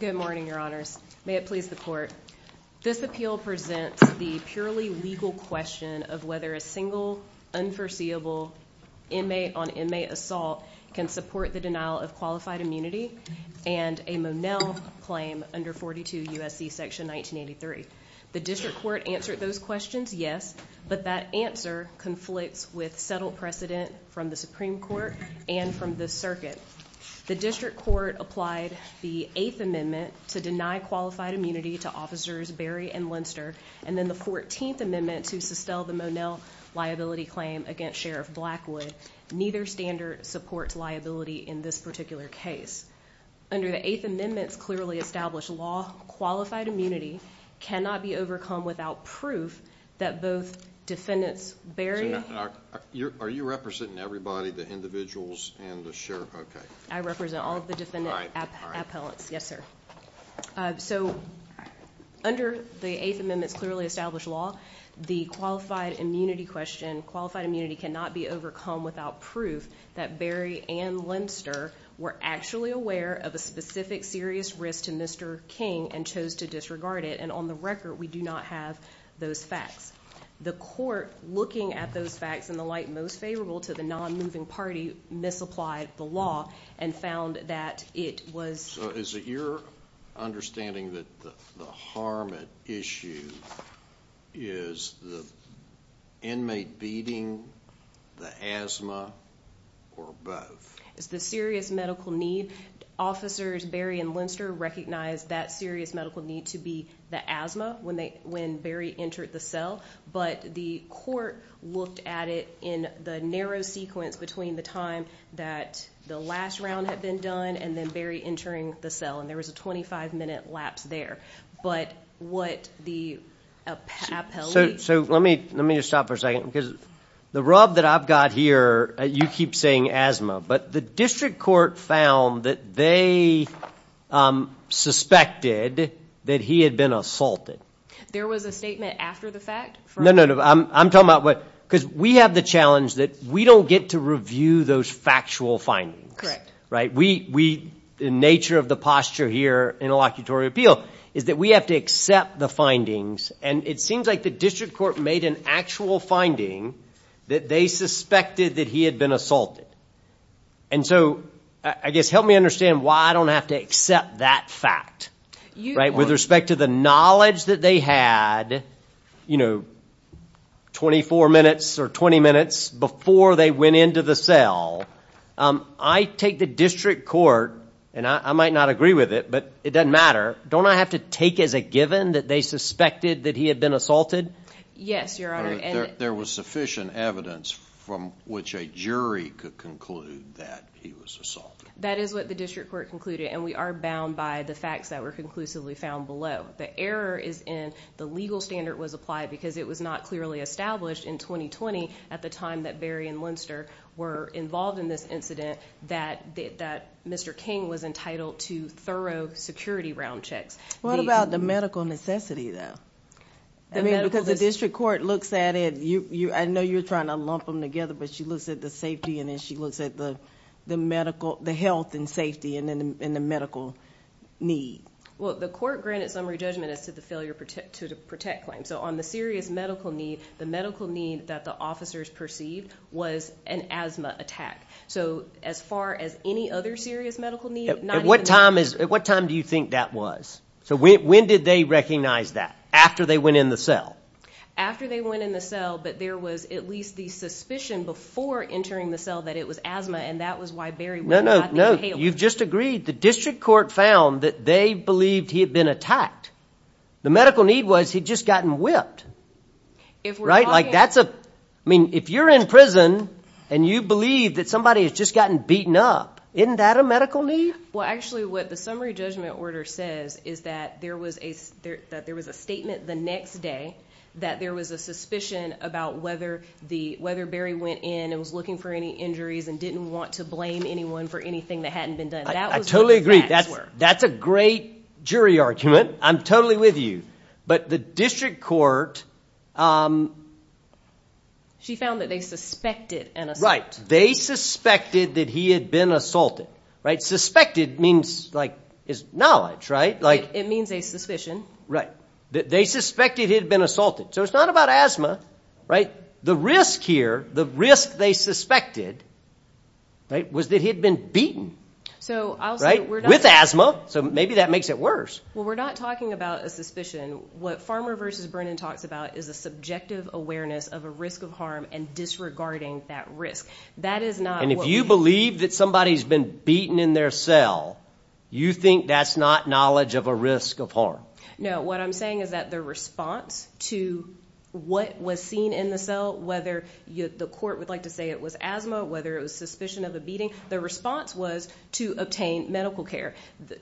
Good morning, Your Honors. May it please the Court, this appeal presents the purely legal question of whether a single unforeseeable inmate on inmate assault can support the denial of qualified immunity and a Monell claim under 42 U.S.C. section 1983. The District Court answered those questions, yes, but that answer conflicts with settled precedent from the Supreme Court and from the Circuit. The District Court applied the Eighth Amendment to deny qualified immunity to Officers Berry and Linster, and then the Fourteenth Amendment to sustain the Monell liability claim against Sheriff Blackwood. Neither standard supports liability in this particular case. Under the Eighth Amendment's clearly established law, qualified immunity cannot be overcome without proof that both defendants Berry... Are you representing everybody, the individuals and the Sheriff? Okay. I represent all of the defendant appellants. Yes, sir. So under the Eighth Amendment's clearly established law, the qualified immunity question, qualified immunity cannot be overcome without proof that Berry and Linster were actually aware of a specific serious risk to Mr. King and chose to disregard it. And on the record, we do not have those facts. The Court, looking at those facts in the light most favorable to the nonmoving party, misapplied the law and found that it was... So is it your understanding that the harm at issue is the inmate beating, the asthma, or both? It's the serious medical need. Officers Berry and Linster recognized that serious medical need to be the asthma when Berry entered the cell. But the Court looked at it in the narrow sequence between the time that the last round had been done and then Berry entering the cell. And there was a 25-minute lapse there. But what the appellee... So let me just stop for a second because the rub that I've got here, you keep saying asthma. But the District Court found that they suspected that he had been assaulted. There was a statement after the fact? No, no, no. I'm talking about what... Because we have the challenge that we don't get to review those factual findings. Correct. Right? We... The nature of the posture here in a locutory appeal is that we have to accept the findings. And it seems like the District Court made an actual finding that they suspected that he had been assaulted. And so I guess help me understand why I don't have to accept that fact. Right? With respect to the knowledge that they had, you know, 24 minutes or 20 minutes before they went into the cell, I take the District Court, and I might not agree with it, but it doesn't matter. Don't I have to take as a given that they suspected that he had been assaulted? Yes, Your Honor. There was sufficient evidence from which a jury could conclude that he was assaulted. That is what the District Court concluded, and we are bound by the facts that were conclusively found below. The error is in the legal standard was applied because it was not clearly established in 2020, at the time that Barry and Linster were involved in this incident, that Mr. King was entitled to thorough security round checks. What about the medical necessity, though? I mean, because the District Court looks at it. I know you're trying to lump them together, but she looks at the safety, and then she looks at the health and safety and the medical need. Well, the court granted summary judgment as to the failure to protect claims. So on the serious medical need, the medical need that the officers perceived was an asthma attack. So as far as any other serious medical need, not even that. At what time do you think that was? So when did they recognize that? After they went in the cell? After they went in the cell, but there was at least the suspicion before entering the cell that it was asthma, and that was why Barry was not entailed. No, no, no, you've just agreed. The District Court found that they believed he had been attacked. The medical need was he'd just gotten whipped. Right? Like that's a – I mean, if you're in prison and you believe that somebody has just gotten beaten up, isn't that a medical need? Well, actually, what the summary judgment order says is that there was a statement the next day that there was a suspicion about whether Barry went in and was looking for any injuries and didn't want to blame anyone for anything that hadn't been done. I totally agree. That's a great jury argument. I'm totally with you, but the District Court – She found that they suspected an assault. Right. They suspected that he had been assaulted. Suspected means like it's knowledge, right? It means a suspicion. Right. They suspected he had been assaulted, so it's not about asthma. The risk here, the risk they suspected was that he had been beaten with asthma, so maybe that makes it worse. Well, we're not talking about a suspicion. What Farmer v. Brennan talks about is a subjective awareness of a risk of harm and disregarding that risk. That is not what – And if you believe that somebody's been beaten in their cell, you think that's not knowledge of a risk of harm? No. What I'm saying is that their response to what was seen in the cell, whether the court would like to say it was asthma, whether it was suspicion of a beating, their response was to obtain medical care.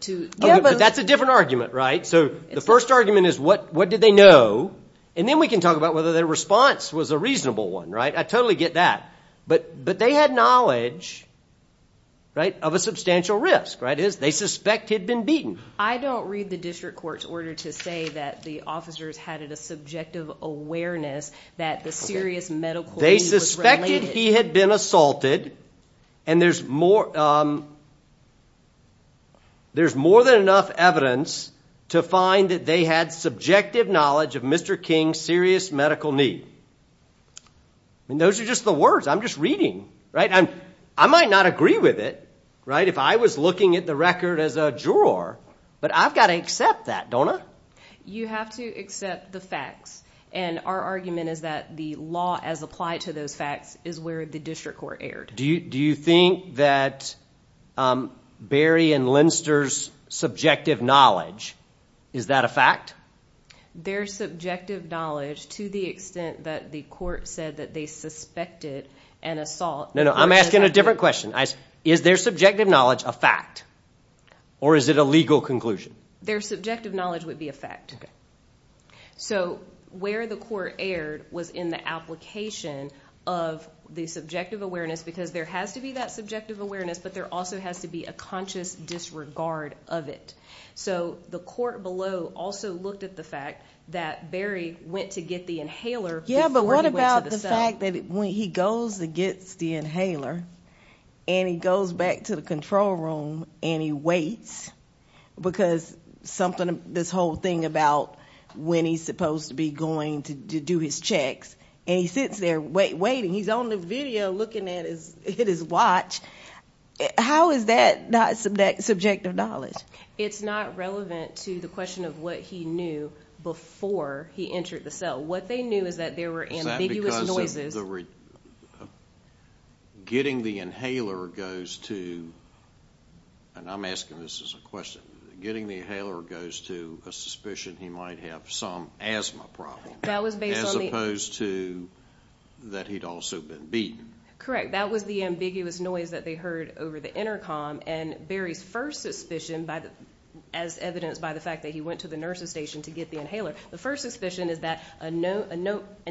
Yeah, but that's a different argument, right? So the first argument is what did they know, and then we can talk about whether their response was a reasonable one, right? I totally get that, but they had knowledge of a substantial risk. They suspect he had been beaten. I don't read the District Court's order to say that the officers had a subjective awareness that the serious medical need was related. They suspected he had been assaulted, and there's more than enough evidence to find that they had subjective knowledge of Mr. King's serious medical need. I mean, those are just the words. I'm just reading, right? I might not agree with it, right, if I was looking at the record as a juror, but I've got to accept that, don't I? You have to accept the facts, and our argument is that the law as applied to those facts is where the District Court erred. Do you think that Berry and Lindster's subjective knowledge, is that a fact? Their subjective knowledge to the extent that the court said that they suspected an assault. No, no, I'm asking a different question. Is their subjective knowledge a fact, or is it a legal conclusion? Their subjective knowledge would be a fact. So where the court erred was in the application of the subjective awareness because there has to be that subjective awareness, but there also has to be a conscious disregard of it. So the court below also looked at the fact that Berry went to get the inhaler before he went to the cell. The fact that when he goes to get the inhaler and he goes back to the control room and he waits, because this whole thing about when he's supposed to be going to do his checks, and he sits there waiting. He's on the video looking at his watch. How is that not subjective knowledge? It's not relevant to the question of what he knew before he entered the cell. What they knew is that there were ambiguous noises. Is that because getting the inhaler goes to, and I'm asking this as a question, getting the inhaler goes to a suspicion he might have some asthma problem as opposed to that he'd also been beaten? Correct. That was the ambiguous noise that they heard over the intercom, and Berry's first suspicion, as evidenced by the fact that he went to the nurse's station to get the inhaler, the first suspicion is that an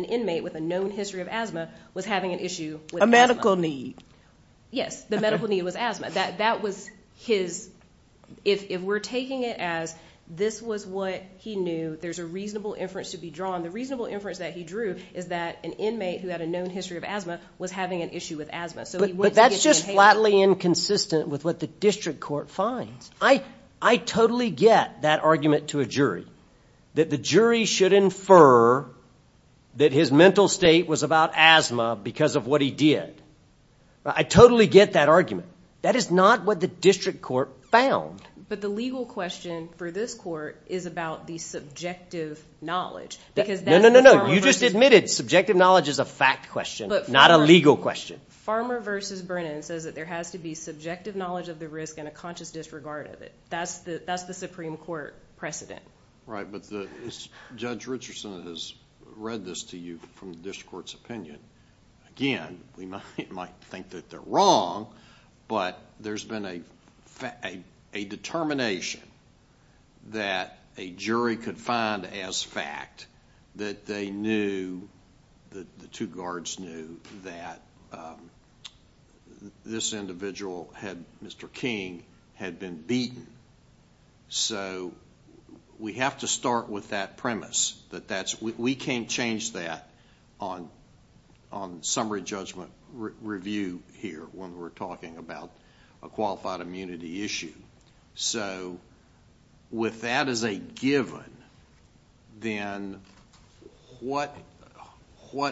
inmate with a known history of asthma was having an issue with asthma. A medical need. Yes, the medical need was asthma. That was his, if we're taking it as this was what he knew, there's a reasonable inference to be drawn. The reasonable inference that he drew is that an inmate who had a known history of asthma was having an issue with asthma. But that's just flatly inconsistent with what the district court finds. I totally get that argument to a jury, that the jury should infer that his mental state was about asthma because of what he did. I totally get that argument. That is not what the district court found. But the legal question for this court is about the subjective knowledge. No, no, no, no. You just admitted subjective knowledge is a fact question, not a legal question. Farmer versus Brennan says that there has to be subjective knowledge of the risk and a conscious disregard of it. That's the Supreme Court precedent. Right, but Judge Richardson has read this to you from the district court's opinion. Again, we might think that they're wrong, but there's been a determination that a jury could find as fact that they knew, that the two guards knew, that this individual, Mr. King, had been beaten. So we have to start with that premise. We can't change that on summary judgment review here when we're talking about a qualified immunity issue. With that as a given, then what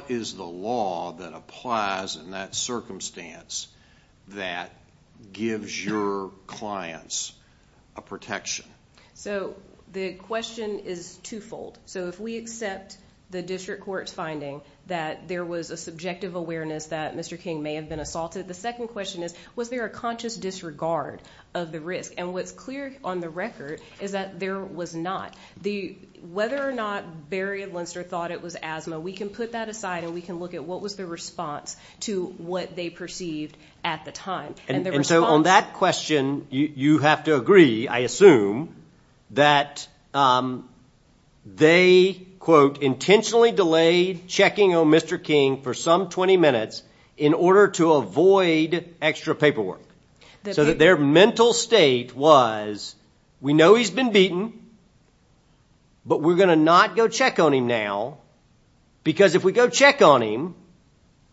is the law that applies in that circumstance that gives your clients a protection? The question is twofold. If we accept the district court's finding that there was a subjective awareness that Mr. King may have been assaulted, the second question is, was there a conscious disregard of the risk? And what's clear on the record is that there was not. Whether or not Barry and Linster thought it was asthma, we can put that aside, and we can look at what was the response to what they perceived at the time. And so on that question, you have to agree, I assume, that they, quote, delayed checking on Mr. King for some 20 minutes in order to avoid extra paperwork. So that their mental state was, we know he's been beaten, but we're going to not go check on him now, because if we go check on him,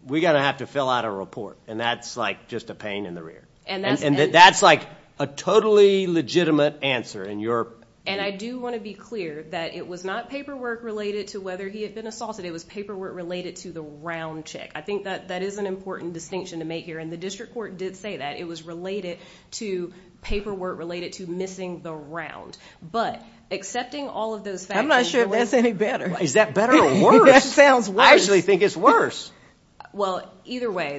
we're going to have to fill out a report. And that's, like, just a pain in the rear. And that's, like, a totally legitimate answer. And I do want to be clear that it was not paperwork related to whether he had been assaulted. It was paperwork related to the round check. I think that that is an important distinction to make here. And the district court did say that. It was related to paperwork related to missing the round. But accepting all of those facts. I'm not sure that's any better. Is that better or worse? That sounds worse. I actually think it's worse. Well, either way,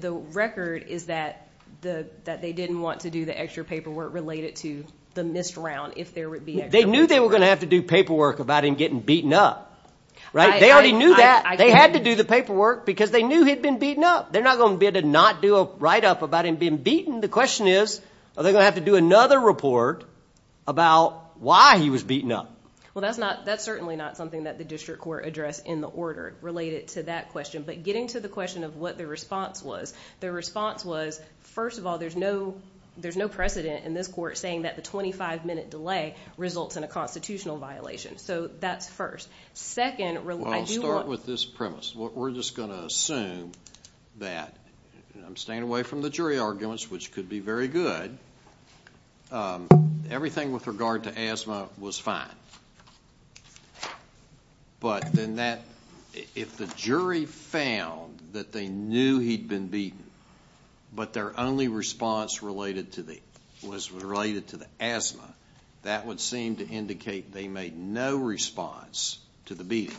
the record is that they didn't want to do the extra paperwork related to the missed round, if there would be extra paperwork. They knew they were going to have to do paperwork about him getting beaten up. Right? They already knew that. They had to do the paperwork because they knew he'd been beaten up. They're not going to be able to not do a write-up about him being beaten. The question is, are they going to have to do another report about why he was beaten up? Well, that's certainly not something that the district court addressed in the order related to that question. But getting to the question of what their response was, their response was, first of all, there's no precedent in this court saying that the 25-minute delay results in a constitutional violation. So that's first. Second, I do want to. Well, I'll start with this premise. We're just going to assume that I'm staying away from the jury arguments, which could be very good. Everything with regard to asthma was fine. But then if the jury found that they knew he'd been beaten but their only response was related to the asthma, that would seem to indicate they made no response to the beating.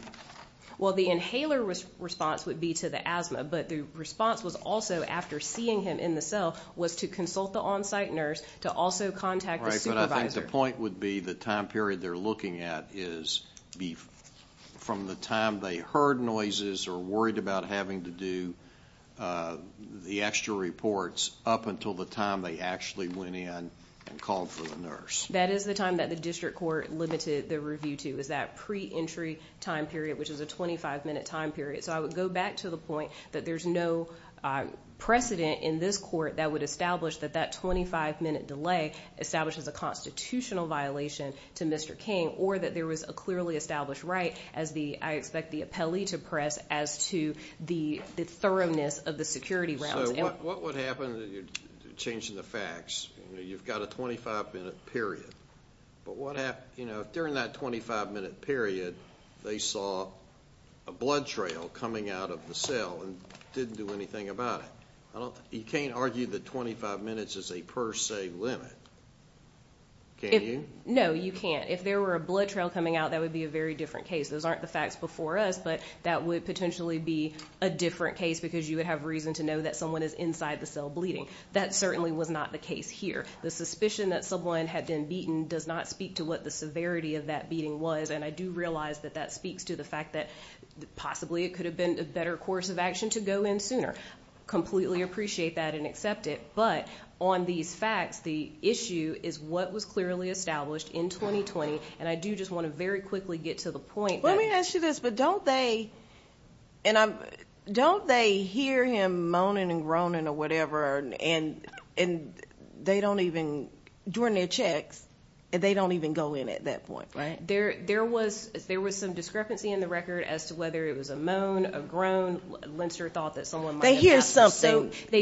Well, the inhaler response would be to the asthma, but the response was also, after seeing him in the cell, was to consult the on-site nurse, to also contact the supervisor. I think the point would be the time period they're looking at is from the time they heard noises or worried about having to do the extra reports up until the time they actually went in and called for the nurse. That is the time that the district court limited the review to, is that pre-entry time period, which is a 25-minute time period. So I would go back to the point that there's no precedent in this court that would establish that that 25-minute delay establishes a constitutional violation to Mr. King or that there was a clearly established right, as I expect the appellee to press, as to the thoroughness of the security rounds. So what would happen if you're changing the facts? You've got a 25-minute period. But what happens if, during that 25-minute period, they saw a blood trail coming out of the cell and didn't do anything about it? You can't argue that 25 minutes is a per se limit, can you? No, you can't. If there were a blood trail coming out, that would be a very different case. Those aren't the facts before us, but that would potentially be a different case because you would have reason to know that someone is inside the cell bleeding. That certainly was not the case here. The suspicion that someone had been beaten does not speak to what the severity of that beating was, and I do realize that that speaks to the fact that possibly it could have been a better course of action to go in sooner. I completely appreciate that and accept it. But on these facts, the issue is what was clearly established in 2020, and I do just want to very quickly get to the point. Let me ask you this. Don't they hear him moaning and groaning or whatever during their checks, and they don't even go in at that point, right? There was some discrepancy in the record as to whether it was a moan, a groan. They hear something. They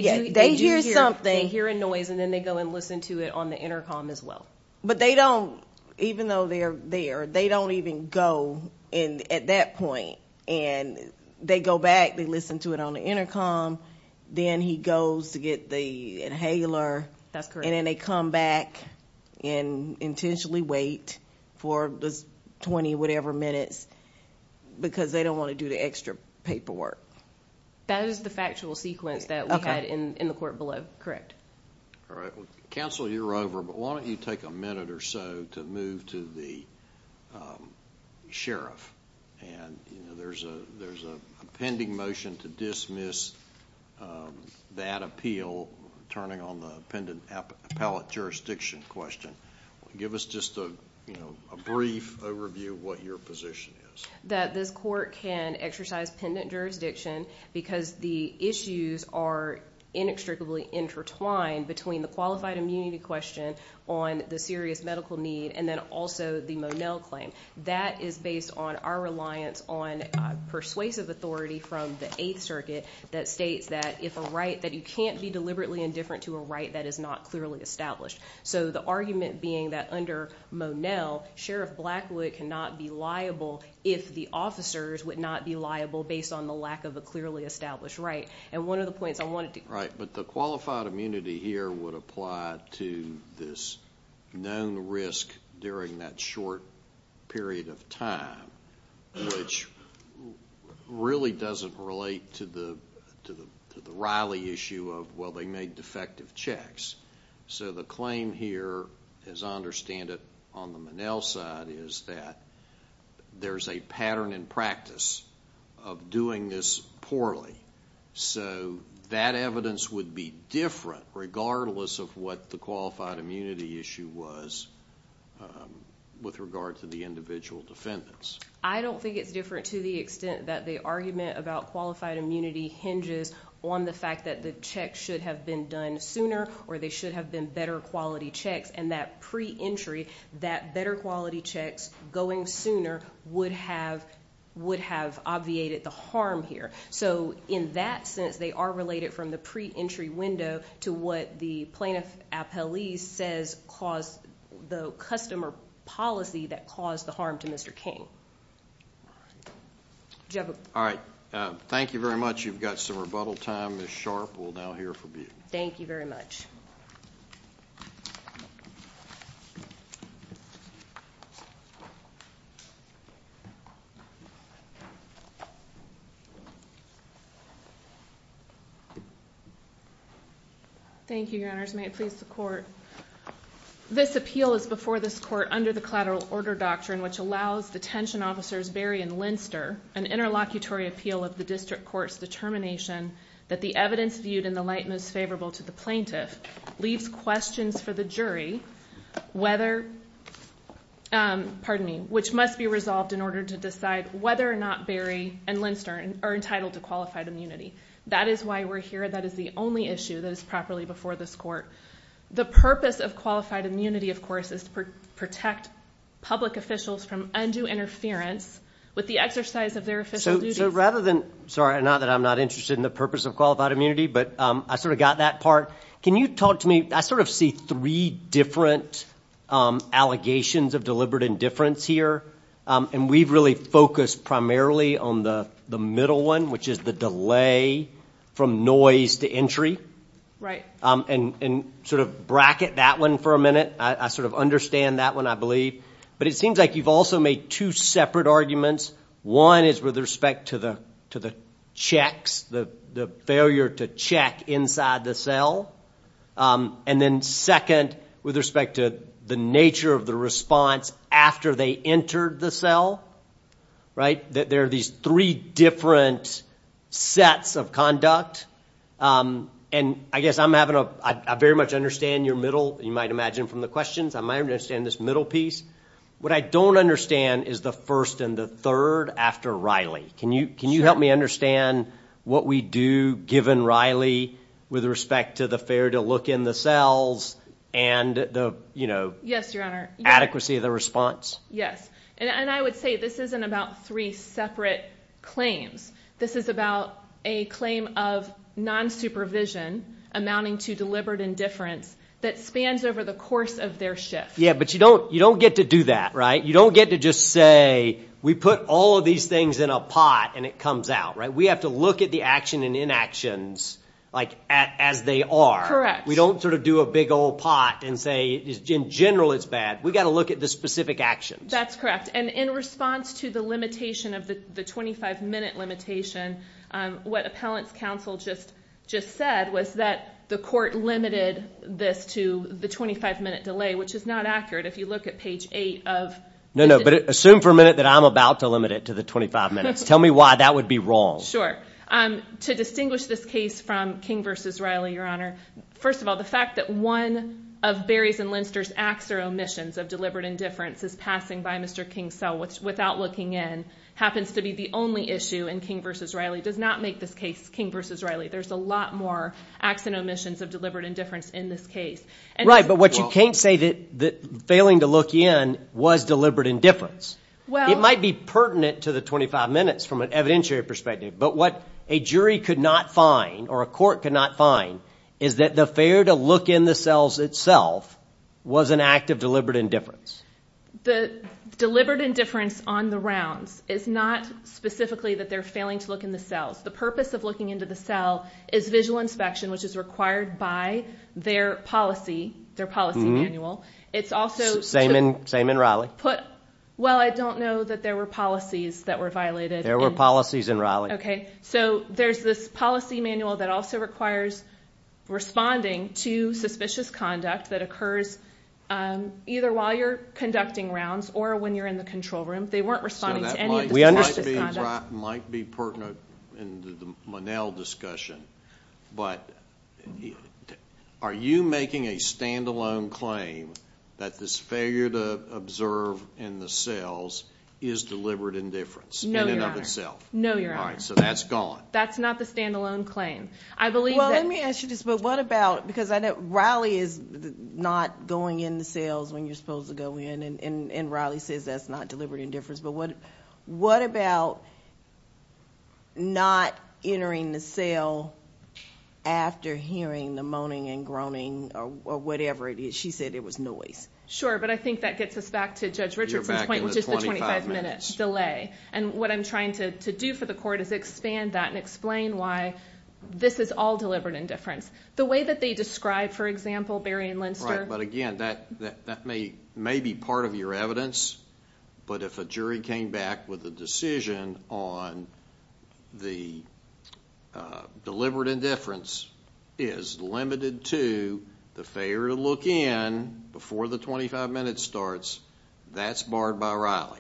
hear a noise, and then they go and listen to it on the intercom as well. But they don't, even though they're there, they don't even go in at that point. And they go back, they listen to it on the intercom, then he goes to get the inhaler. That's correct. And then they come back and intentionally wait for the 20-whatever minutes because they don't want to do the extra paperwork. That is the factual sequence that we had in the court below. All right. Well, counsel, you're over, but why don't you take a minute or so to move to the sheriff. And there's a pending motion to dismiss that appeal turning on the appellate jurisdiction question. Give us just a brief overview of what your position is. That this court can exercise pendant jurisdiction because the issues are inextricably intertwined between the qualified immunity question on the serious medical need and then also the Monell claim. That is based on our reliance on persuasive authority from the Eighth Circuit that states that if a right, that you can't be deliberately indifferent to a right that is not clearly established. So the argument being that under Monell, Sheriff Blackwood cannot be liable if the officers would not be liable based on the lack of a clearly established right. And one of the points I wanted to- Right. But the qualified immunity here would apply to this known risk during that short period of time, which really doesn't relate to the Riley issue of, well, they made defective checks. So the claim here, as I understand it on the Monell side, is that there's a pattern in practice of doing this poorly. So that evidence would be different regardless of what the qualified immunity issue was with regard to the individual defendants. I don't think it's different to the extent that the argument about qualified immunity hinges on the fact that the check should have been done sooner or there should have been better quality checks. And that pre-entry, that better quality checks going sooner, would have obviated the harm here. So in that sense, they are related from the pre-entry window to what the plaintiff appellee says caused the customer policy that caused the harm to Mr. King. All right. Thank you very much. You've got some rebuttal time. Ms. Sharp will now hear from you. Thank you very much. Thank you, Your Honors. May it please the Court. This appeal is before this Court under the Collateral Order Doctrine, which allows Detention Officers Berry and Linster an interlocutory appeal of the District Court's determination that the evidence viewed in the light most favorable to the plaintiff leaves questions for the jury, which must be resolved in order to decide whether or not Berry and Linster are entitled to qualified immunity. That is why we're here. That is the only issue that is properly before this Court. The purpose of qualified immunity, of course, is to protect public officials from undue interference with the exercise of their official duties. Sorry, not that I'm not interested in the purpose of qualified immunity, but I sort of got that part. Can you talk to me? I sort of see three different allegations of deliberate indifference here, and we've really focused primarily on the middle one, which is the delay from noise to entry. Right. And sort of bracket that one for a minute. I sort of understand that one, I believe. But it seems like you've also made two separate arguments. One is with respect to the checks, the failure to check inside the cell. And then second, with respect to the nature of the response after they entered the cell, right, that there are these three different sets of conduct. And I guess I'm having a very much understand your middle, you might imagine from the questions, I might understand this middle piece. What I don't understand is the first and the third after Riley. Can you help me understand what we do given Riley with respect to the failure to look in the cells and the adequacy of the response? Yes. And I would say this isn't about three separate claims. This is about a claim of non-supervision amounting to deliberate indifference that spans over the course of their shift. Yeah, but you don't get to do that, right? You don't get to just say we put all of these things in a pot and it comes out. We have to look at the action and inactions as they are. Correct. We don't sort of do a big old pot and say in general it's bad. We've got to look at the specific actions. That's correct. And in response to the limitation of the 25-minute limitation, what appellant's counsel just said was that the court limited this to the 25-minute delay, which is not accurate if you look at page 8. No, no, but assume for a minute that I'm about to limit it to the 25 minutes. Tell me why that would be wrong. To distinguish this case from King v. Riley, Your Honor, first of all the fact that one of Berries and Linster's acts or omissions of deliberate indifference is passing by Mr. King's cell without looking in happens to be the only issue in King v. Riley does not make this case King v. Riley. There's a lot more acts and omissions of deliberate indifference in this case. Right, but what you can't say that failing to look in was deliberate indifference. It might be pertinent to the 25 minutes from an evidentiary perspective, but what a jury could not find or a court could not find is that the failure to look in the cells itself was an act of deliberate indifference. The deliberate indifference on the rounds is not specifically that they're failing to look in the cells. The purpose of looking into the cell is visual inspection, which is required by their policy, their policy manual. Same in Riley. Well, I don't know that there were policies that were violated. There were policies in Riley. Okay, so there's this policy manual that also requires responding to suspicious conduct that occurs either while you're conducting rounds or when you're in the control room. They weren't responding to any of the suspicious conduct. That might be pertinent in the Monell discussion, but are you making a stand-alone claim that this failure to observe in the cells is deliberate indifference in and of itself? No, Your Honor. All right, so that's gone. That's not the stand-alone claim. Well, let me ask you this. Because I know Riley is not going in the cells when you're supposed to go in, and Riley says that's not deliberate indifference, but what about not entering the cell after hearing the moaning and groaning or whatever it is? She said it was noise. Sure, but I think that gets us back to Judge Richardson's point, which is the 25-minute delay. And what I'm trying to do for the court is expand that and explain why this is all deliberate indifference. The way that they describe, for example, Berry and Linster. Right, but again, that may be part of your evidence, but if a jury came back with a decision on the deliberate indifference is limited to the failure to look in before the 25-minute starts, that's barred by Riley.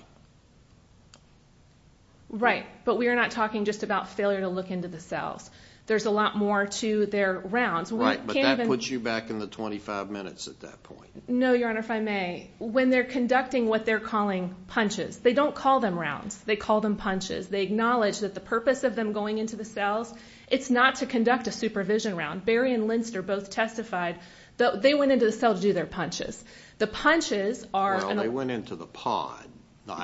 Right, but we are not talking just about failure to look into the cells. There's a lot more to their rounds. Right, but that puts you back in the 25 minutes at that point. No, Your Honor, if I may. When they're conducting what they're calling punches, they don't call them rounds. They call them punches. They acknowledge that the purpose of them going into the cells, it's not to conduct a supervision round. Berry and Linster both testified that they went into the cell to do their punches. Well, they went into the pod.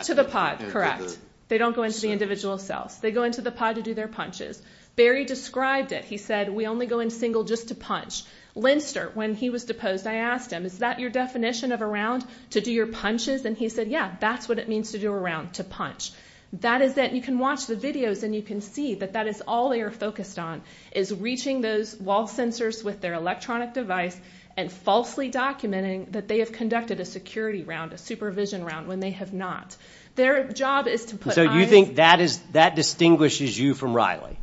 To the pod, correct. They don't go into the individual cells. They go into the pod to do their punches. Berry described it. He said, we only go in single just to punch. Linster, when he was deposed, I asked him, is that your definition of a round to do your punches? And he said, yeah, that's what it means to do a round, to punch. That is that you can watch the videos and you can see that that is all they are focused on is reaching those wall sensors with their electronic device and falsely documenting that they have conducted a security round, a supervision round, when they have not. Their job is to put eyes. So you think that distinguishes you from Riley?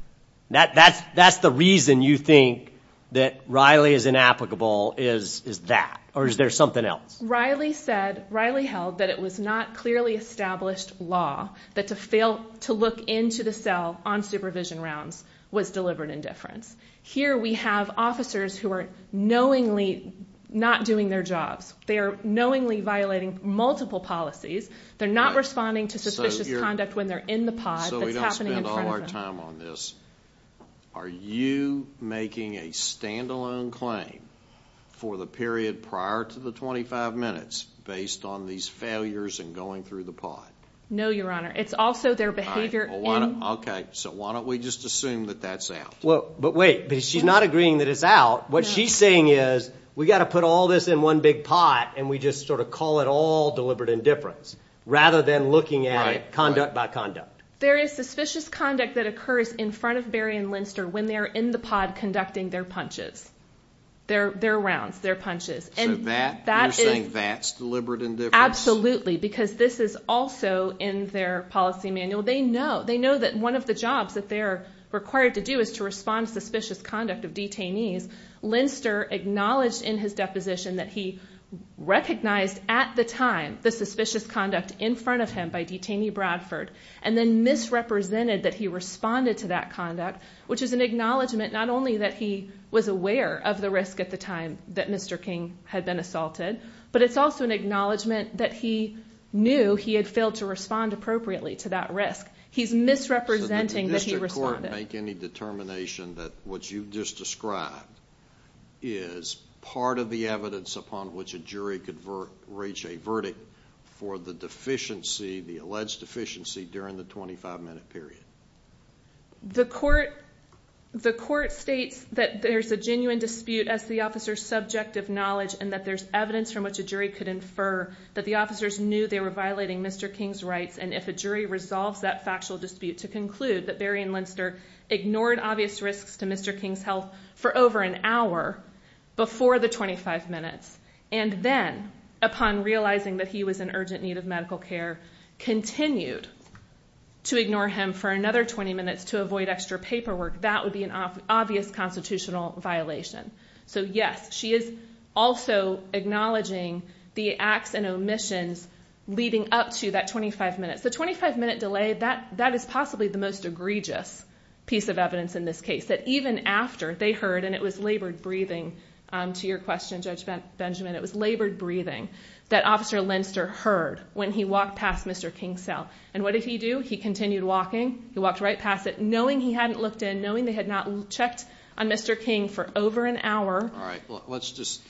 That's the reason you think that Riley is inapplicable is that, or is there something else? Riley said, Riley held, that it was not clearly established law that to look into the cell on supervision rounds was deliberate indifference. Here we have officers who are knowingly not doing their jobs. They are knowingly violating multiple policies. They're not responding to suspicious conduct when they're in the pod. And so we don't spend all our time on this. Are you making a stand-alone claim for the period prior to the 25 minutes based on these failures and going through the pod? No, Your Honor. It's also their behavior in... Okay, so why don't we just assume that that's out? But wait, she's not agreeing that it's out. What she's saying is we've got to put all this in one big pod and we just sort of call it all deliberate indifference rather than looking at it conduct by conduct. There is suspicious conduct that occurs in front of Berry and Linster when they're in the pod conducting their punches, their rounds, their punches. So you're saying that's deliberate indifference? Absolutely, because this is also in their policy manual. They know that one of the jobs that they're required to do is to respond to suspicious conduct of detainees. Linster acknowledged in his deposition that he recognized at the time the suspicious conduct in front of him by detainee Bradford and then misrepresented that he responded to that conduct, which is an acknowledgment not only that he was aware of the risk at the time that Mr. King had been assaulted, but it's also an acknowledgment that he knew he had failed to respond appropriately to that risk. He's misrepresenting that he responded. So did the district court make any determination that what you just described is part of the evidence upon which a jury could reach a verdict for the deficiency, the alleged deficiency, during the 25-minute period? The court states that there's a genuine dispute as the officer's subjective knowledge and that there's evidence from which a jury could infer that the officers knew they were violating Mr. King's rights and if a jury resolves that factual dispute to conclude that Berry and Linster ignored obvious risks to Mr. King's health for over an hour before the 25 minutes and then, upon realizing that he was in urgent need of medical care, continued to ignore him for another 20 minutes to avoid extra paperwork, that would be an obvious constitutional violation. So yes, she is also acknowledging the acts and omissions leading up to that 25 minutes. The 25-minute delay, that is possibly the most egregious piece of evidence in this case, that even after they heard, and it was labored breathing to your question, Judge Benjamin, it was labored breathing that Officer Linster heard when he walked past Mr. King's cell. And what did he do? He continued walking. He walked right past it, knowing he hadn't looked in, knowing they had not checked on Mr. King for over an hour. All right, let's just,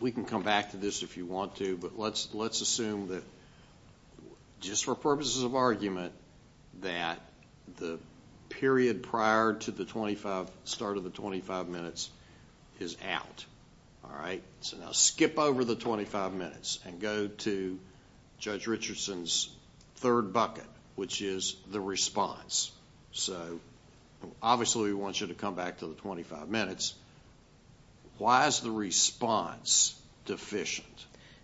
we can come back to this if you want to, but let's assume that, just for purposes of argument, that the period prior to the start of the 25 minutes is out. All right? So now skip over the 25 minutes and go to Judge Richardson's third bucket, which is the response. So obviously we want you to come back to the 25 minutes. Why is the response deficient?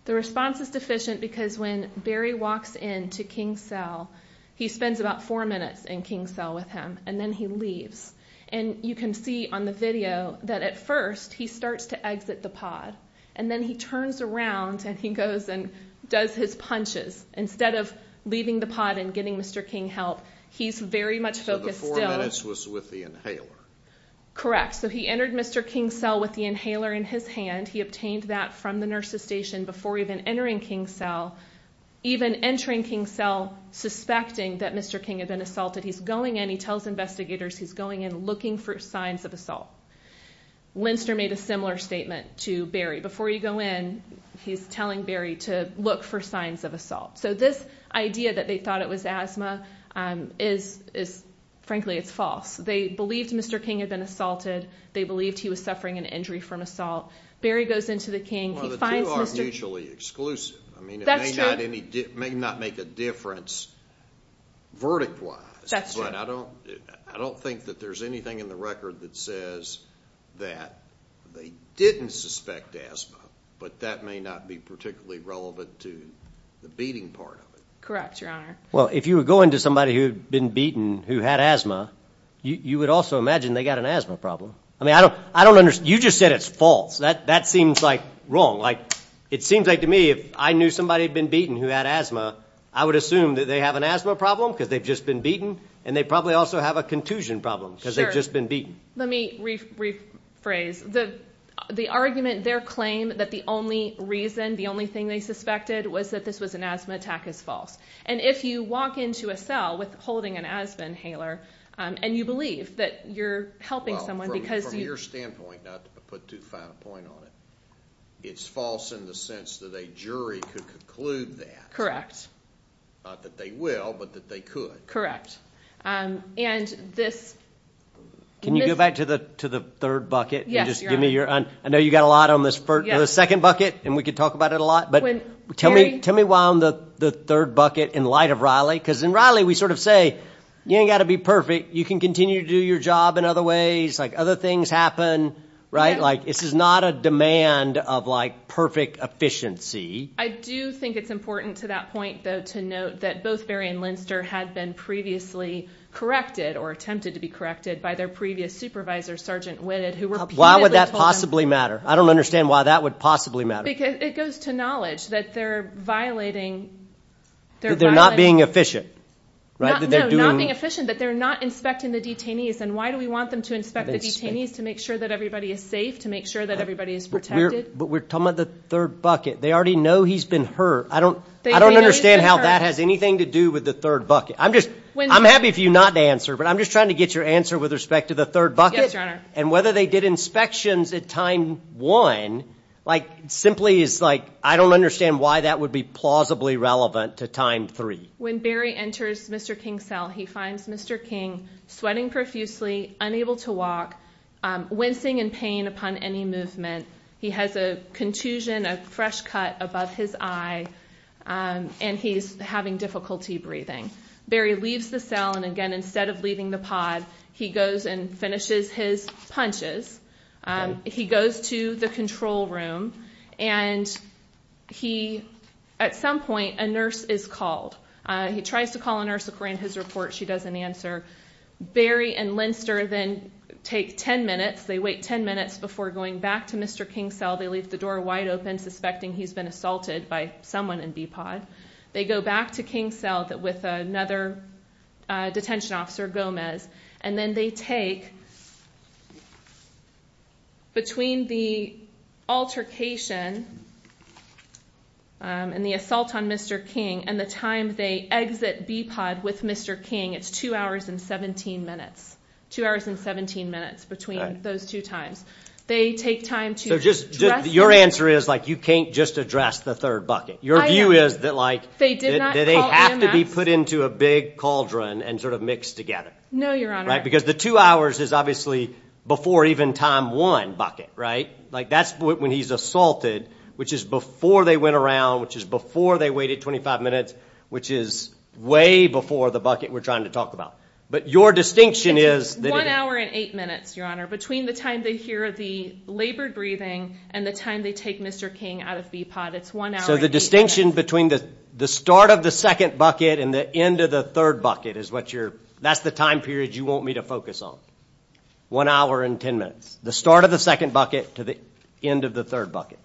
The response is deficient because when Barry walks into King's cell, he spends about four minutes in King's cell with him, and then he leaves. And you can see on the video that at first he starts to exit the pod, and then he turns around and he goes and does his punches. Instead of leaving the pod and getting Mr. King help, he's very much focused still. So the four minutes was with the inhaler. Correct. So he entered Mr. King's cell with the inhaler in his hand. He obtained that from the nurse's station before even entering King's cell, even entering King's cell suspecting that Mr. King had been assaulted. He's going in. He tells investigators he's going in looking for signs of assault. Linster made a similar statement to Barry. Before you go in, he's telling Barry to look for signs of assault. So this idea that they thought it was asthma is, frankly, it's false. They believed Mr. King had been assaulted. They believed he was suffering an injury from assault. Barry goes into the King. Well, the two are mutually exclusive. I mean, it may not make a difference verdict-wise. That's true. But I don't think that there's anything in the record that says that they didn't suspect asthma, but that may not be particularly relevant to the beating part of it. Correct, Your Honor. Well, if you were going to somebody who had been beaten who had asthma, you would also imagine they got an asthma problem. I mean, I don't understand. You just said it's false. That seems, like, wrong. Like, it seems like to me if I knew somebody had been beaten who had asthma, I would assume that they have an asthma problem because they've just been beaten, and they probably also have a contusion problem because they've just been beaten. Let me rephrase. The argument there claimed that the only reason, the only thing they suspected, was that this was an asthma attack is false. And if you walk into a cell with holding an asthma inhaler and you believe that you're helping someone because you – Well, from your standpoint, not to put too fine a point on it, it's false in the sense that a jury could conclude that. Correct. Not that they will, but that they could. Correct. And this – Can you go back to the third bucket and just give me your – I know you've got a lot on this second bucket, and we could talk about it a lot. But tell me why on the third bucket in light of Riley, because in Riley we sort of say you ain't got to be perfect. You can continue to do your job in other ways. Like, other things happen, right? Like, this is not a demand of, like, perfect efficiency. I do think it's important to that point, though, to note that both Barry and Linster had been previously corrected or attempted to be corrected by their previous supervisor, Sergeant Witted, who repeatedly told them – Why would that possibly matter? I don't understand why that would possibly matter. Because it goes to knowledge that they're violating – That they're not being efficient, right? No, not being efficient, that they're not inspecting the detainees. And why do we want them to inspect the detainees? To make sure that everybody is safe, to make sure that everybody is protected. But we're talking about the third bucket. They already know he's been hurt. I don't understand how that has anything to do with the third bucket. I'm happy for you not to answer, but I'm just trying to get your answer with respect to the third bucket. Yes, Your Honor. And whether they did inspections at time one simply is – I don't understand why that would be plausibly relevant to time three. When Barry enters Mr. King's cell, he finds Mr. King sweating profusely, unable to walk, wincing in pain upon any movement. He has a contusion, a fresh cut above his eye, and he's having difficulty breathing. Barry leaves the cell, and again, instead of leaving the pod, he goes and finishes his punches. He goes to the control room, and at some point a nurse is called. He tries to call a nurse according to his report. She doesn't answer. Barry and Linster then take 10 minutes. They wait 10 minutes before going back to Mr. King's cell. They leave the door wide open, suspecting he's been assaulted by someone in B-Pod. They go back to King's cell with another detention officer, Gomez, and then they take, between the altercation and the assault on Mr. King and the time they exit B-Pod with Mr. King, it's two hours and 17 minutes. Two hours and 17 minutes between those two times. They take time to dress him. So your answer is, like, you can't just address the third bucket. Your view is that, like, they have to be put into a big cauldron and sort of mixed together. No, Your Honor. Right, because the two hours is obviously before even time one bucket, right? Like, that's when he's assaulted, which is before they went around, which is before they waited 25 minutes, which is way before the bucket we're trying to talk about. But your distinction is that it is. It's one hour and eight minutes, Your Honor, between the time they hear the labored breathing and the time they take Mr. King out of B-Pod. It's one hour and eight minutes. So the distinction between the start of the second bucket and the end of the third bucket is what you're ñ that's the time period you want me to focus on. One hour and ten minutes. The start of the second bucket to the end of the third bucket.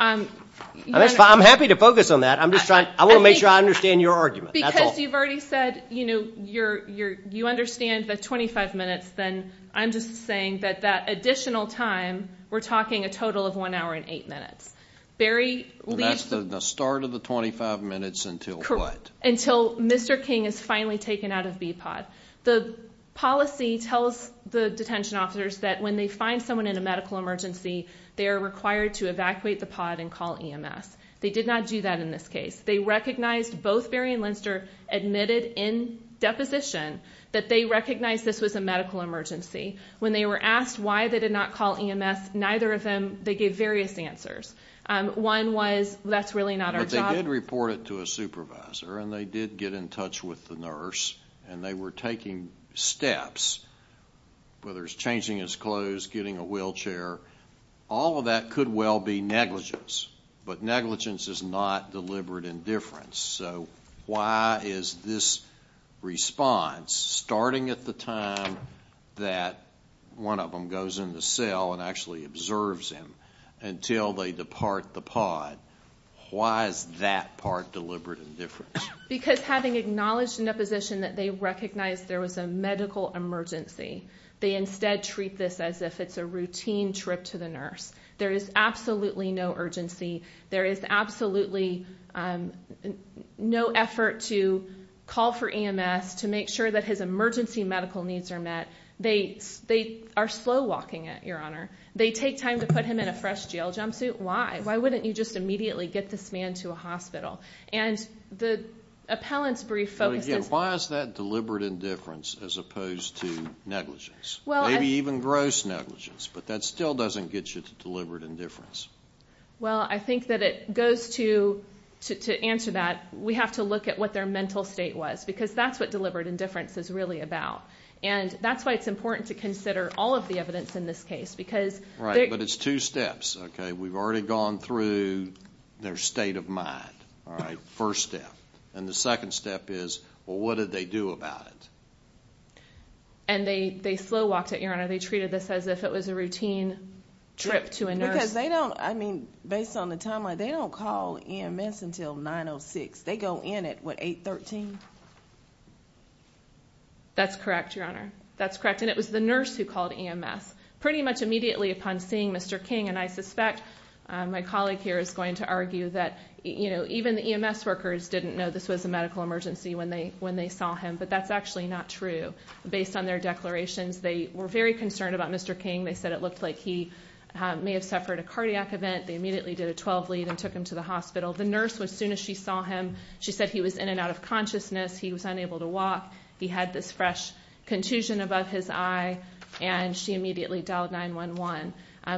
I'm happy to focus on that. I'm just trying ñ I want to make sure I understand your argument. Because you've already said, you know, you understand the 25 minutes, then I'm just saying that that additional time, we're talking a total of one hour and eight minutes. That's the start of the 25 minutes until what? Until Mr. King is finally taken out of B-Pod. The policy tells the detention officers that when they find someone in a medical emergency, they are required to evacuate the pod and call EMS. They did not do that in this case. They recognized ñ both Barry and Linster admitted in deposition that they recognized this was a medical emergency. When they were asked why they did not call EMS, neither of them ñ they gave various answers. One was, that's really not our job. But they did report it to a supervisor, and they did get in touch with the nurse, and they were taking steps, whether it's changing his clothes, getting a wheelchair. All of that could well be negligence. But negligence is not deliberate indifference. So why is this response, starting at the time that one of them goes into cell and actually observes him until they depart the pod, why is that part deliberate indifference? Because having acknowledged in deposition that they recognized there was a medical emergency, they instead treat this as if it's a routine trip to the nurse. There is absolutely no urgency. There is absolutely no effort to call for EMS to make sure that his emergency medical needs are met. They are slow walking it, Your Honor. They take time to put him in a fresh jail jumpsuit. Why? Why wouldn't you just immediately get this man to a hospital? And the appellant's brief focuses ñ But again, why is that deliberate indifference as opposed to negligence? Maybe even gross negligence, but that still doesn't get you to deliberate indifference. Well, I think that it goes to ñ to answer that, we have to look at what their mental state was, because that's what deliberate indifference is really about. And that's why it's important to consider all of the evidence in this case, because ñ Right, but it's two steps, okay? We've already gone through their state of mind, all right? First step. And the second step is, well, what did they do about it? And they slow walked it, Your Honor. They treated this as if it was a routine trip to a nurse. Because they don't ñ I mean, based on the timeline, they don't call EMS until 9.06. They go in at, what, 8.13? That's correct, Your Honor. That's correct. And it was the nurse who called EMS, pretty much immediately upon seeing Mr. King. And I suspect my colleague here is going to argue that, you know, even the EMS workers didn't know this was a medical emergency when they saw him. But that's actually not true. Based on their declarations, they were very concerned about Mr. King. They said it looked like he may have suffered a cardiac event. They immediately did a 12-lead and took him to the hospital. The nurse, as soon as she saw him, she said he was in and out of consciousness, he was unable to walk, he had this fresh contusion above his eye, and she immediately dialed 911.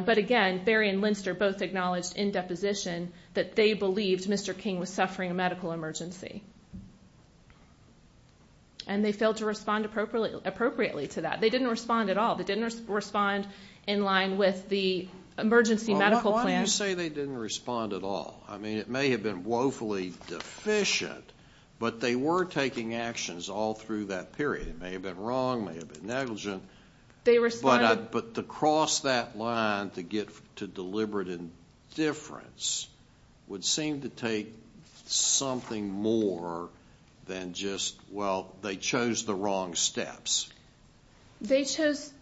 But, again, Berry and Linster both acknowledged in deposition that they believed Mr. King was suffering a medical emergency. And they failed to respond appropriately to that. They didn't respond at all. They didn't respond in line with the emergency medical plan. Well, why do you say they didn't respond at all? I mean, it may have been woefully deficient, but they were taking actions all through that period. It may have been wrong, it may have been negligent. But to cross that line to deliberate indifference would seem to take something more than just, well, they chose the wrong steps. They chose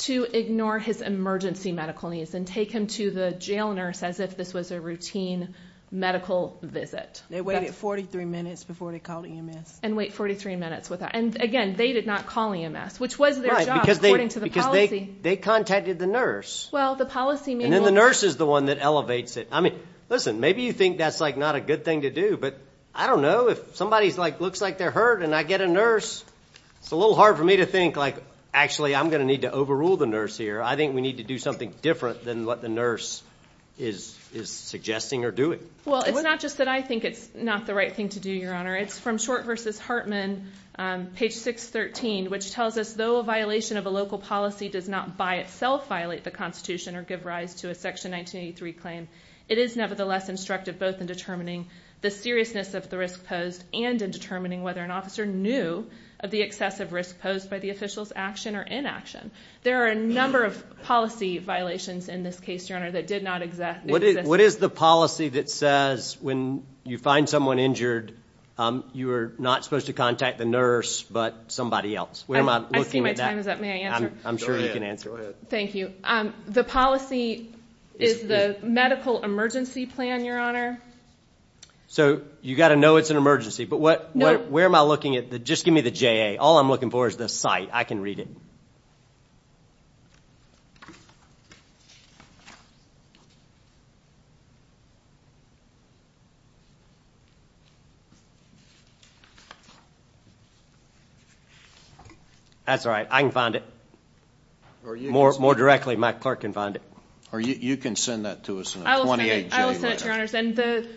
to ignore his emergency medical needs and take him to the jail nurse as if this was a routine medical visit. They waited 43 minutes before they called EMS. And wait 43 minutes with that. And, again, they did not call EMS, which was their job, according to the policy. Right, because they contacted the nurse. Well, the policy manual. And then the nurse is the one that elevates it. I mean, listen, maybe you think that's, like, not a good thing to do, but I don't know, if somebody looks like they're hurt and I get a nurse, it's a little hard for me to think, like, actually, I'm going to need to overrule the nurse here. I think we need to do something different than what the nurse is suggesting or doing. Well, it's not just that I think it's not the right thing to do, Your Honor. It's from Short v. Hartman, page 613, which tells us, though a violation of a local policy does not by itself violate the Constitution or give rise to a Section 1983 claim, it is nevertheless instructive both in determining the seriousness of the risk posed and in determining whether an officer knew of the excessive risk posed by the official's action or inaction. There are a number of policy violations in this case, Your Honor, that did not exist. What is the policy that says when you find someone injured, you are not supposed to contact the nurse but somebody else? Where am I looking at that? I see my time is up. May I answer? I'm sure you can answer. Go ahead. Go ahead. Thank you. The policy is the medical emergency plan, Your Honor. So you've got to know it's an emergency. But where am I looking at? Just give me the JA. All I'm looking for is the site. I can read it. That's all right. I can find it. More directly, my clerk can find it. You can send that to us on the 28th. I will send it to you, Your Honors. And the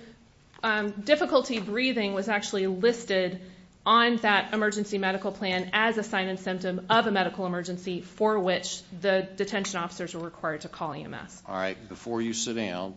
difficulty breathing was actually listed on that emergency medical plan as a sign and symptom of a medical emergency for which the detention officers were required to call EMS. All right. Before you sit down,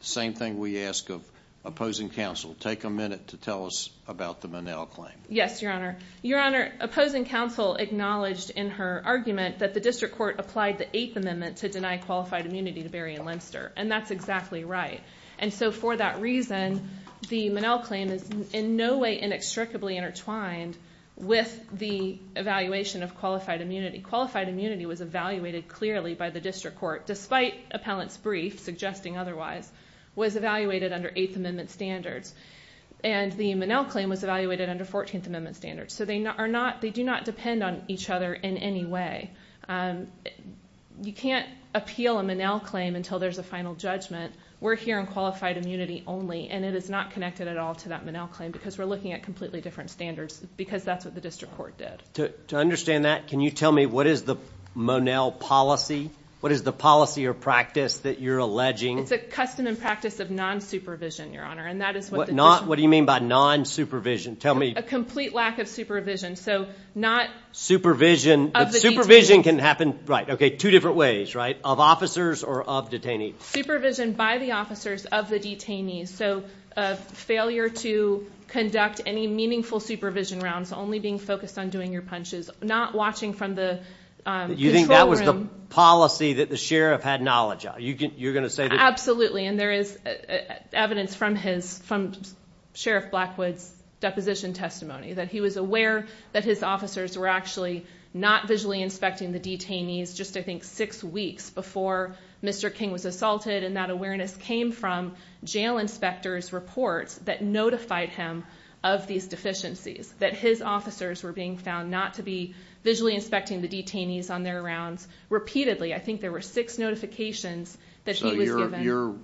same thing we ask of opposing counsel. Take a minute to tell us about the Minnell claim. Yes, Your Honor. Your Honor, opposing counsel acknowledged in her argument that the district court applied the Eighth Amendment to deny qualified immunity to Barry and Lemster. And that's exactly right. And so for that reason, the Minnell claim is in no way inextricably intertwined with the evaluation of qualified immunity. Qualified immunity was evaluated clearly by the district court, despite appellant's brief suggesting otherwise, was evaluated under Eighth Amendment standards. And the Minnell claim was evaluated under Fourteenth Amendment standards. So they do not depend on each other in any way. You can't appeal a Minnell claim until there's a final judgment. We're here on qualified immunity only, and it is not connected at all to that Minnell claim because we're looking at completely different standards because that's what the district court did. To understand that, can you tell me what is the Minnell policy? What is the policy or practice that you're alleging? It's a custom and practice of non-supervision, Your Honor. What do you mean by non-supervision? A complete lack of supervision. Supervision can happen two different ways, right? Of officers or of detainees? Supervision by the officers of the detainees. So failure to conduct any meaningful supervision rounds, only being focused on doing your punches, not watching from the control room. You think that was the policy that the sheriff had knowledge of? Absolutely, and there is evidence from Sheriff Blackwood's deposition testimony that he was aware that his officers were actually not visually inspecting the detainees just, I think, six weeks before Mr. King was assaulted, and that awareness came from jail inspectors' reports that notified him of these deficiencies, that his officers were being found not to be visually inspecting the detainees on their rounds repeatedly. I think there were six notifications that he was given. So your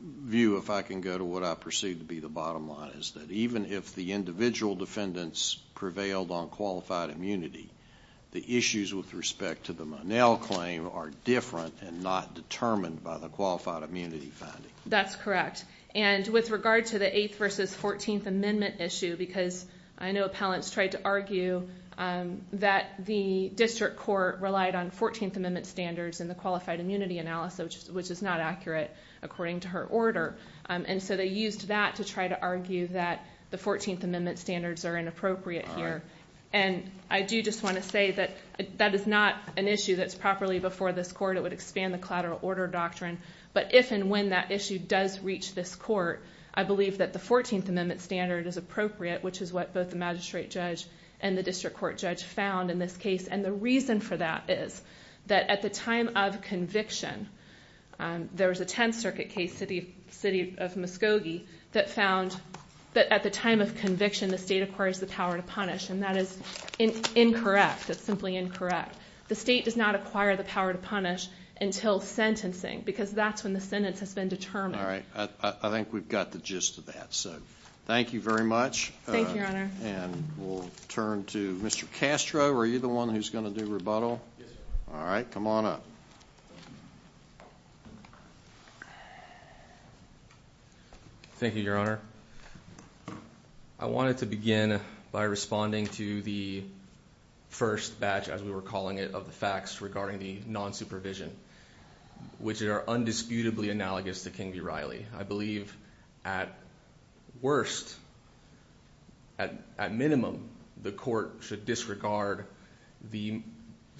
view, if I can go to what I perceive to be the bottom line, is that even if the individual defendants prevailed on qualified immunity, the issues with respect to the Monell claim are different and not determined by the qualified immunity finding. That's correct. And with regard to the 8th v. 14th Amendment issue, because I know appellants tried to argue that the district court relied on 14th Amendment standards in the qualified immunity analysis, which is not accurate according to her order, and so they used that to try to argue that the 14th Amendment standards are inappropriate here. And I do just want to say that that is not an issue that's properly before this court. It would expand the collateral order doctrine. But if and when that issue does reach this court, I believe that the 14th Amendment standard is appropriate, which is what both the magistrate judge and the district court judge found in this case. And the reason for that is that at the time of conviction, there was a Tenth Circuit case, the city of Muskogee, that found that at the time of conviction the state acquires the power to punish, and that is incorrect. That's simply incorrect. The state does not acquire the power to punish until sentencing, because that's when the sentence has been determined. I think we've got the gist of that. So thank you very much. Thank you, Your Honor. And we'll turn to Mr. Castro. Are you the one who's going to do rebuttal? Yes, sir. All right. Come on up. Thank you, Your Honor. I wanted to begin by responding to the first batch, as we were calling it, of the facts regarding the nonsupervision, which are undisputably analogous to King v. Riley. I believe at worst, at minimum, the court should disregard the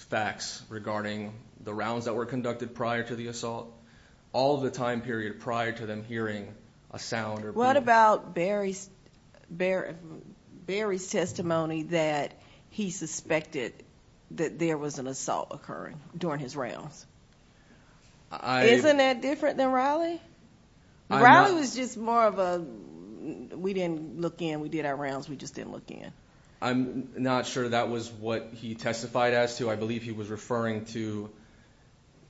facts regarding the rounds that were conducted prior to the assault, all of the time period prior to them hearing a sound or being heard. What about Barry's testimony that he suspected that there was an assault occurring during his rounds? Isn't that different than Riley? Riley was just more of a we didn't look in, we did our rounds, we just didn't look in. I'm not sure that was what he testified as to. I believe he was referring to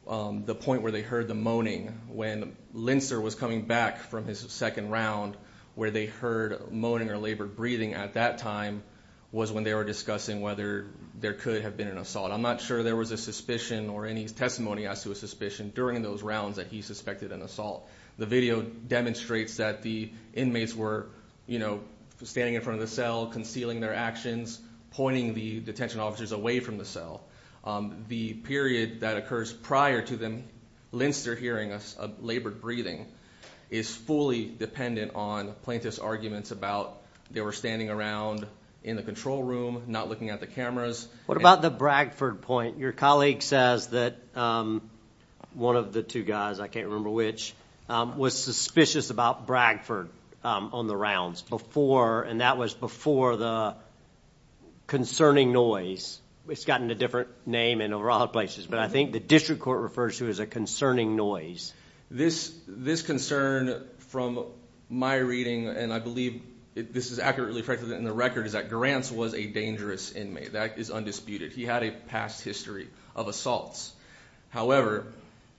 the point where they heard the moaning when Linster was coming back from his second round, where they heard moaning or labored breathing at that time was when they were discussing whether there could have been an assault. I'm not sure there was a suspicion or any testimony as to a suspicion during those rounds that he suspected an assault. The video demonstrates that the inmates were standing in front of the cell, concealing their actions, pointing the detention officers away from the cell. The period that occurs prior to them, Linster hearing a labored breathing, is fully dependent on plaintiff's arguments about they were standing around in the control room, not looking at the cameras. What about the Bragford point? Your colleague says that one of the two guys, I can't remember which, was suspicious about Bragford on the rounds, and that was before the concerning noise. It's gotten a different name in a lot of places, but I think the district court refers to it as a concerning noise. This concern from my reading, and I believe this is accurately reflected in the record, is that Garance was a dangerous inmate. That is undisputed. He had a past history of assaults. However,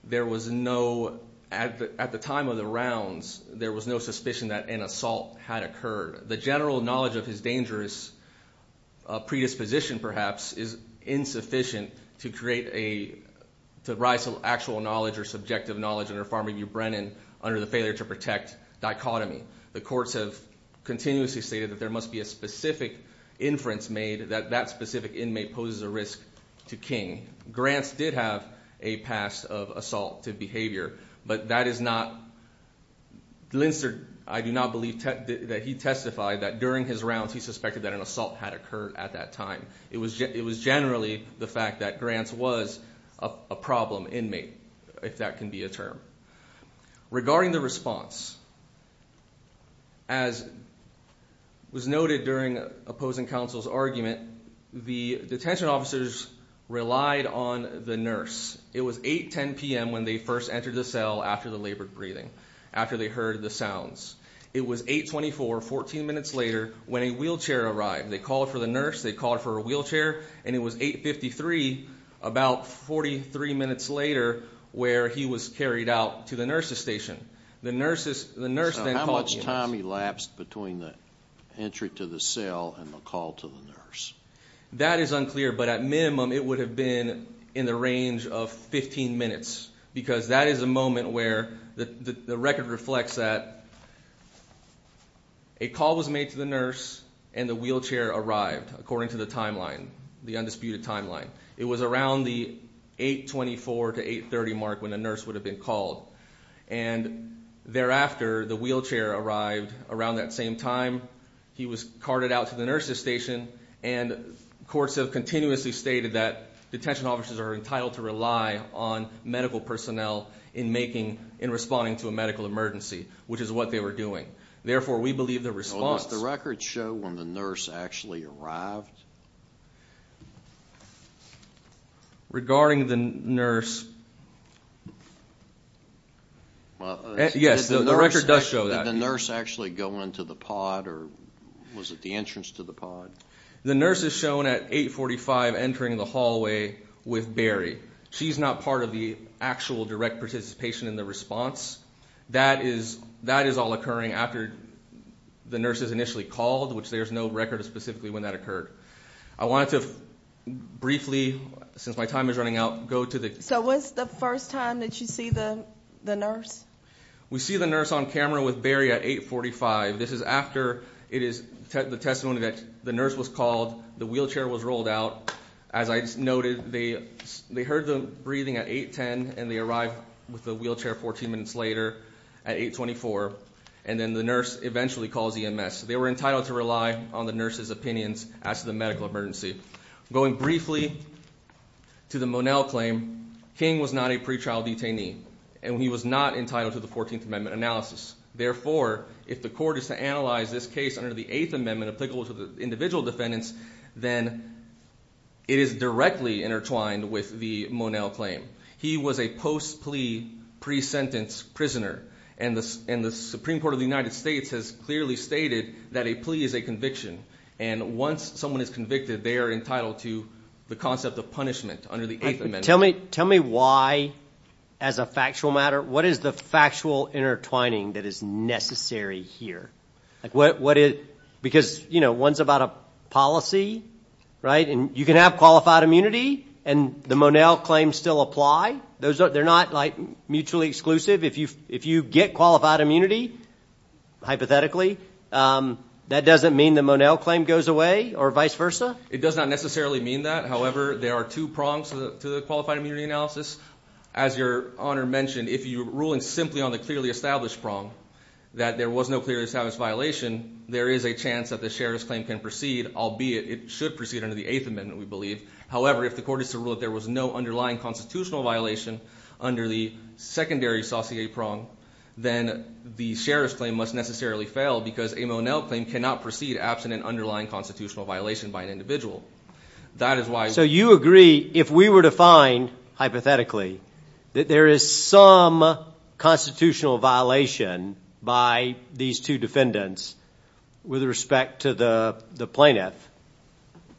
there was no, at the time of the rounds, there was no suspicion that an assault had occurred. The general knowledge of his dangerous predisposition, perhaps, is insufficient to rise to actual knowledge or subjective knowledge under Farm Review Brennan under the failure to protect dichotomy. The courts have continuously stated that there must be a specific inference made that that specific inmate poses a risk to King. Garance did have a past of assaultive behavior, but that is not, Linster, I do not believe that he testified that during his rounds he suspected that an assault had occurred at that time. It was generally the fact that Garance was a problem inmate, if that can be a term. Regarding the response, as was noted during opposing counsel's argument, the detention officers relied on the nurse. It was 8.10 p.m. when they first entered the cell after the labored breathing, after they heard the sounds. It was 8.24, 14 minutes later, when a wheelchair arrived. They called for the nurse, they called for a wheelchair, and it was 8.53, about 43 minutes later, where he was carried out to the nurse's station. So how much time elapsed between the entry to the cell and the call to the nurse? That is unclear, but at minimum it would have been in the range of 15 minutes because that is a moment where the record reflects that a call was made to the nurse and the wheelchair arrived according to the timeline, the undisputed timeline. It was around the 8.24 to 8.30 mark when the nurse would have been called, and thereafter the wheelchair arrived around that same time. He was carted out to the nurse's station, and courts have continuously stated that detention officers are entitled to rely on medical personnel in responding to a medical emergency, which is what they were doing. Therefore, we believe the response— Does the record show when the nurse actually arrived? Regarding the nurse—yes, the record does show that. Did the nurse actually go into the pod, or was it the entrance to the pod? The nurse is shown at 8.45 entering the hallway with Barry. She's not part of the actual direct participation in the response. That is all occurring after the nurse is initially called, which there's no record of specifically when that occurred. I wanted to briefly, since my time is running out, go to the— So when's the first time that you see the nurse? We see the nurse on camera with Barry at 8.45. This is after the testimony that the nurse was called, the wheelchair was rolled out. As I noted, they heard the breathing at 8.10, and they arrived with the wheelchair 14 minutes later at 8.24, and then the nurse eventually calls EMS. They were entitled to rely on the nurse's opinions as to the medical emergency. Going briefly to the Monell claim, King was not a pretrial detainee, and he was not entitled to the 14th Amendment analysis. Therefore, if the court is to analyze this case under the 8th Amendment applicable to the individual defendants, then it is directly intertwined with the Monell claim. He was a post-plea, pre-sentence prisoner, and the Supreme Court of the United States has clearly stated that a plea is a conviction, and once someone is convicted, they are entitled to the concept of punishment under the 8th Amendment. Tell me why, as a factual matter, what is the factual intertwining that is necessary here? Because, you know, one's about a policy, right? You can have qualified immunity, and the Monell claims still apply. They're not, like, mutually exclusive. If you get qualified immunity, hypothetically, that doesn't mean the Monell claim goes away or vice versa? It does not necessarily mean that. However, there are two prongs to the qualified immunity analysis. As Your Honor mentioned, if you're ruling simply on the clearly established prong, that there was no clearly established violation, there is a chance that the sheriff's claim can proceed, albeit it should proceed under the 8th Amendment, we believe. However, if the court is to rule that there was no underlying constitutional violation under the secondary saucier prong, then the sheriff's claim must necessarily fail because a Monell claim cannot proceed absent an underlying constitutional violation by an individual. That is why— So you agree, if we were to find, hypothetically, that there is some constitutional violation by these two defendants with respect to the plaintiff,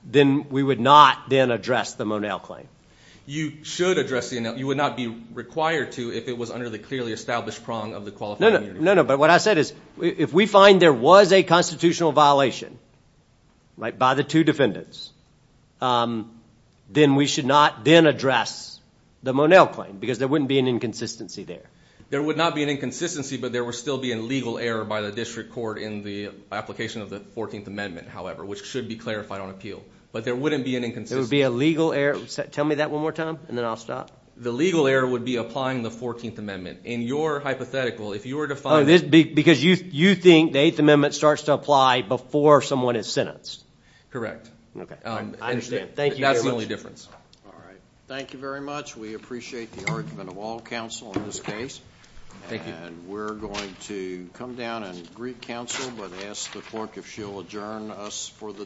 then we would not then address the Monell claim? You should address the Monell. You would not be required to if it was under the clearly established prong of the qualified immunity. No, no. But what I said is if we find there was a constitutional violation by the two defendants, then we should not then address the Monell claim because there wouldn't be an inconsistency there. There would not be an inconsistency, but there would still be a legal error by the district court in the application of the 14th Amendment, however, which should be clarified on appeal, but there wouldn't be an inconsistency. There would be a legal error. Tell me that one more time, and then I'll stop. The legal error would be applying the 14th Amendment. In your hypothetical, if you were to find— Because you think the 8th Amendment starts to apply before someone is sentenced? Correct. I understand. Thank you very much. That's the only difference. All right. Thank you very much. We appreciate the argument of all counsel in this case. Thank you. And we're going to come down and greet counsel, but ask the clerk if she'll adjourn us for the day.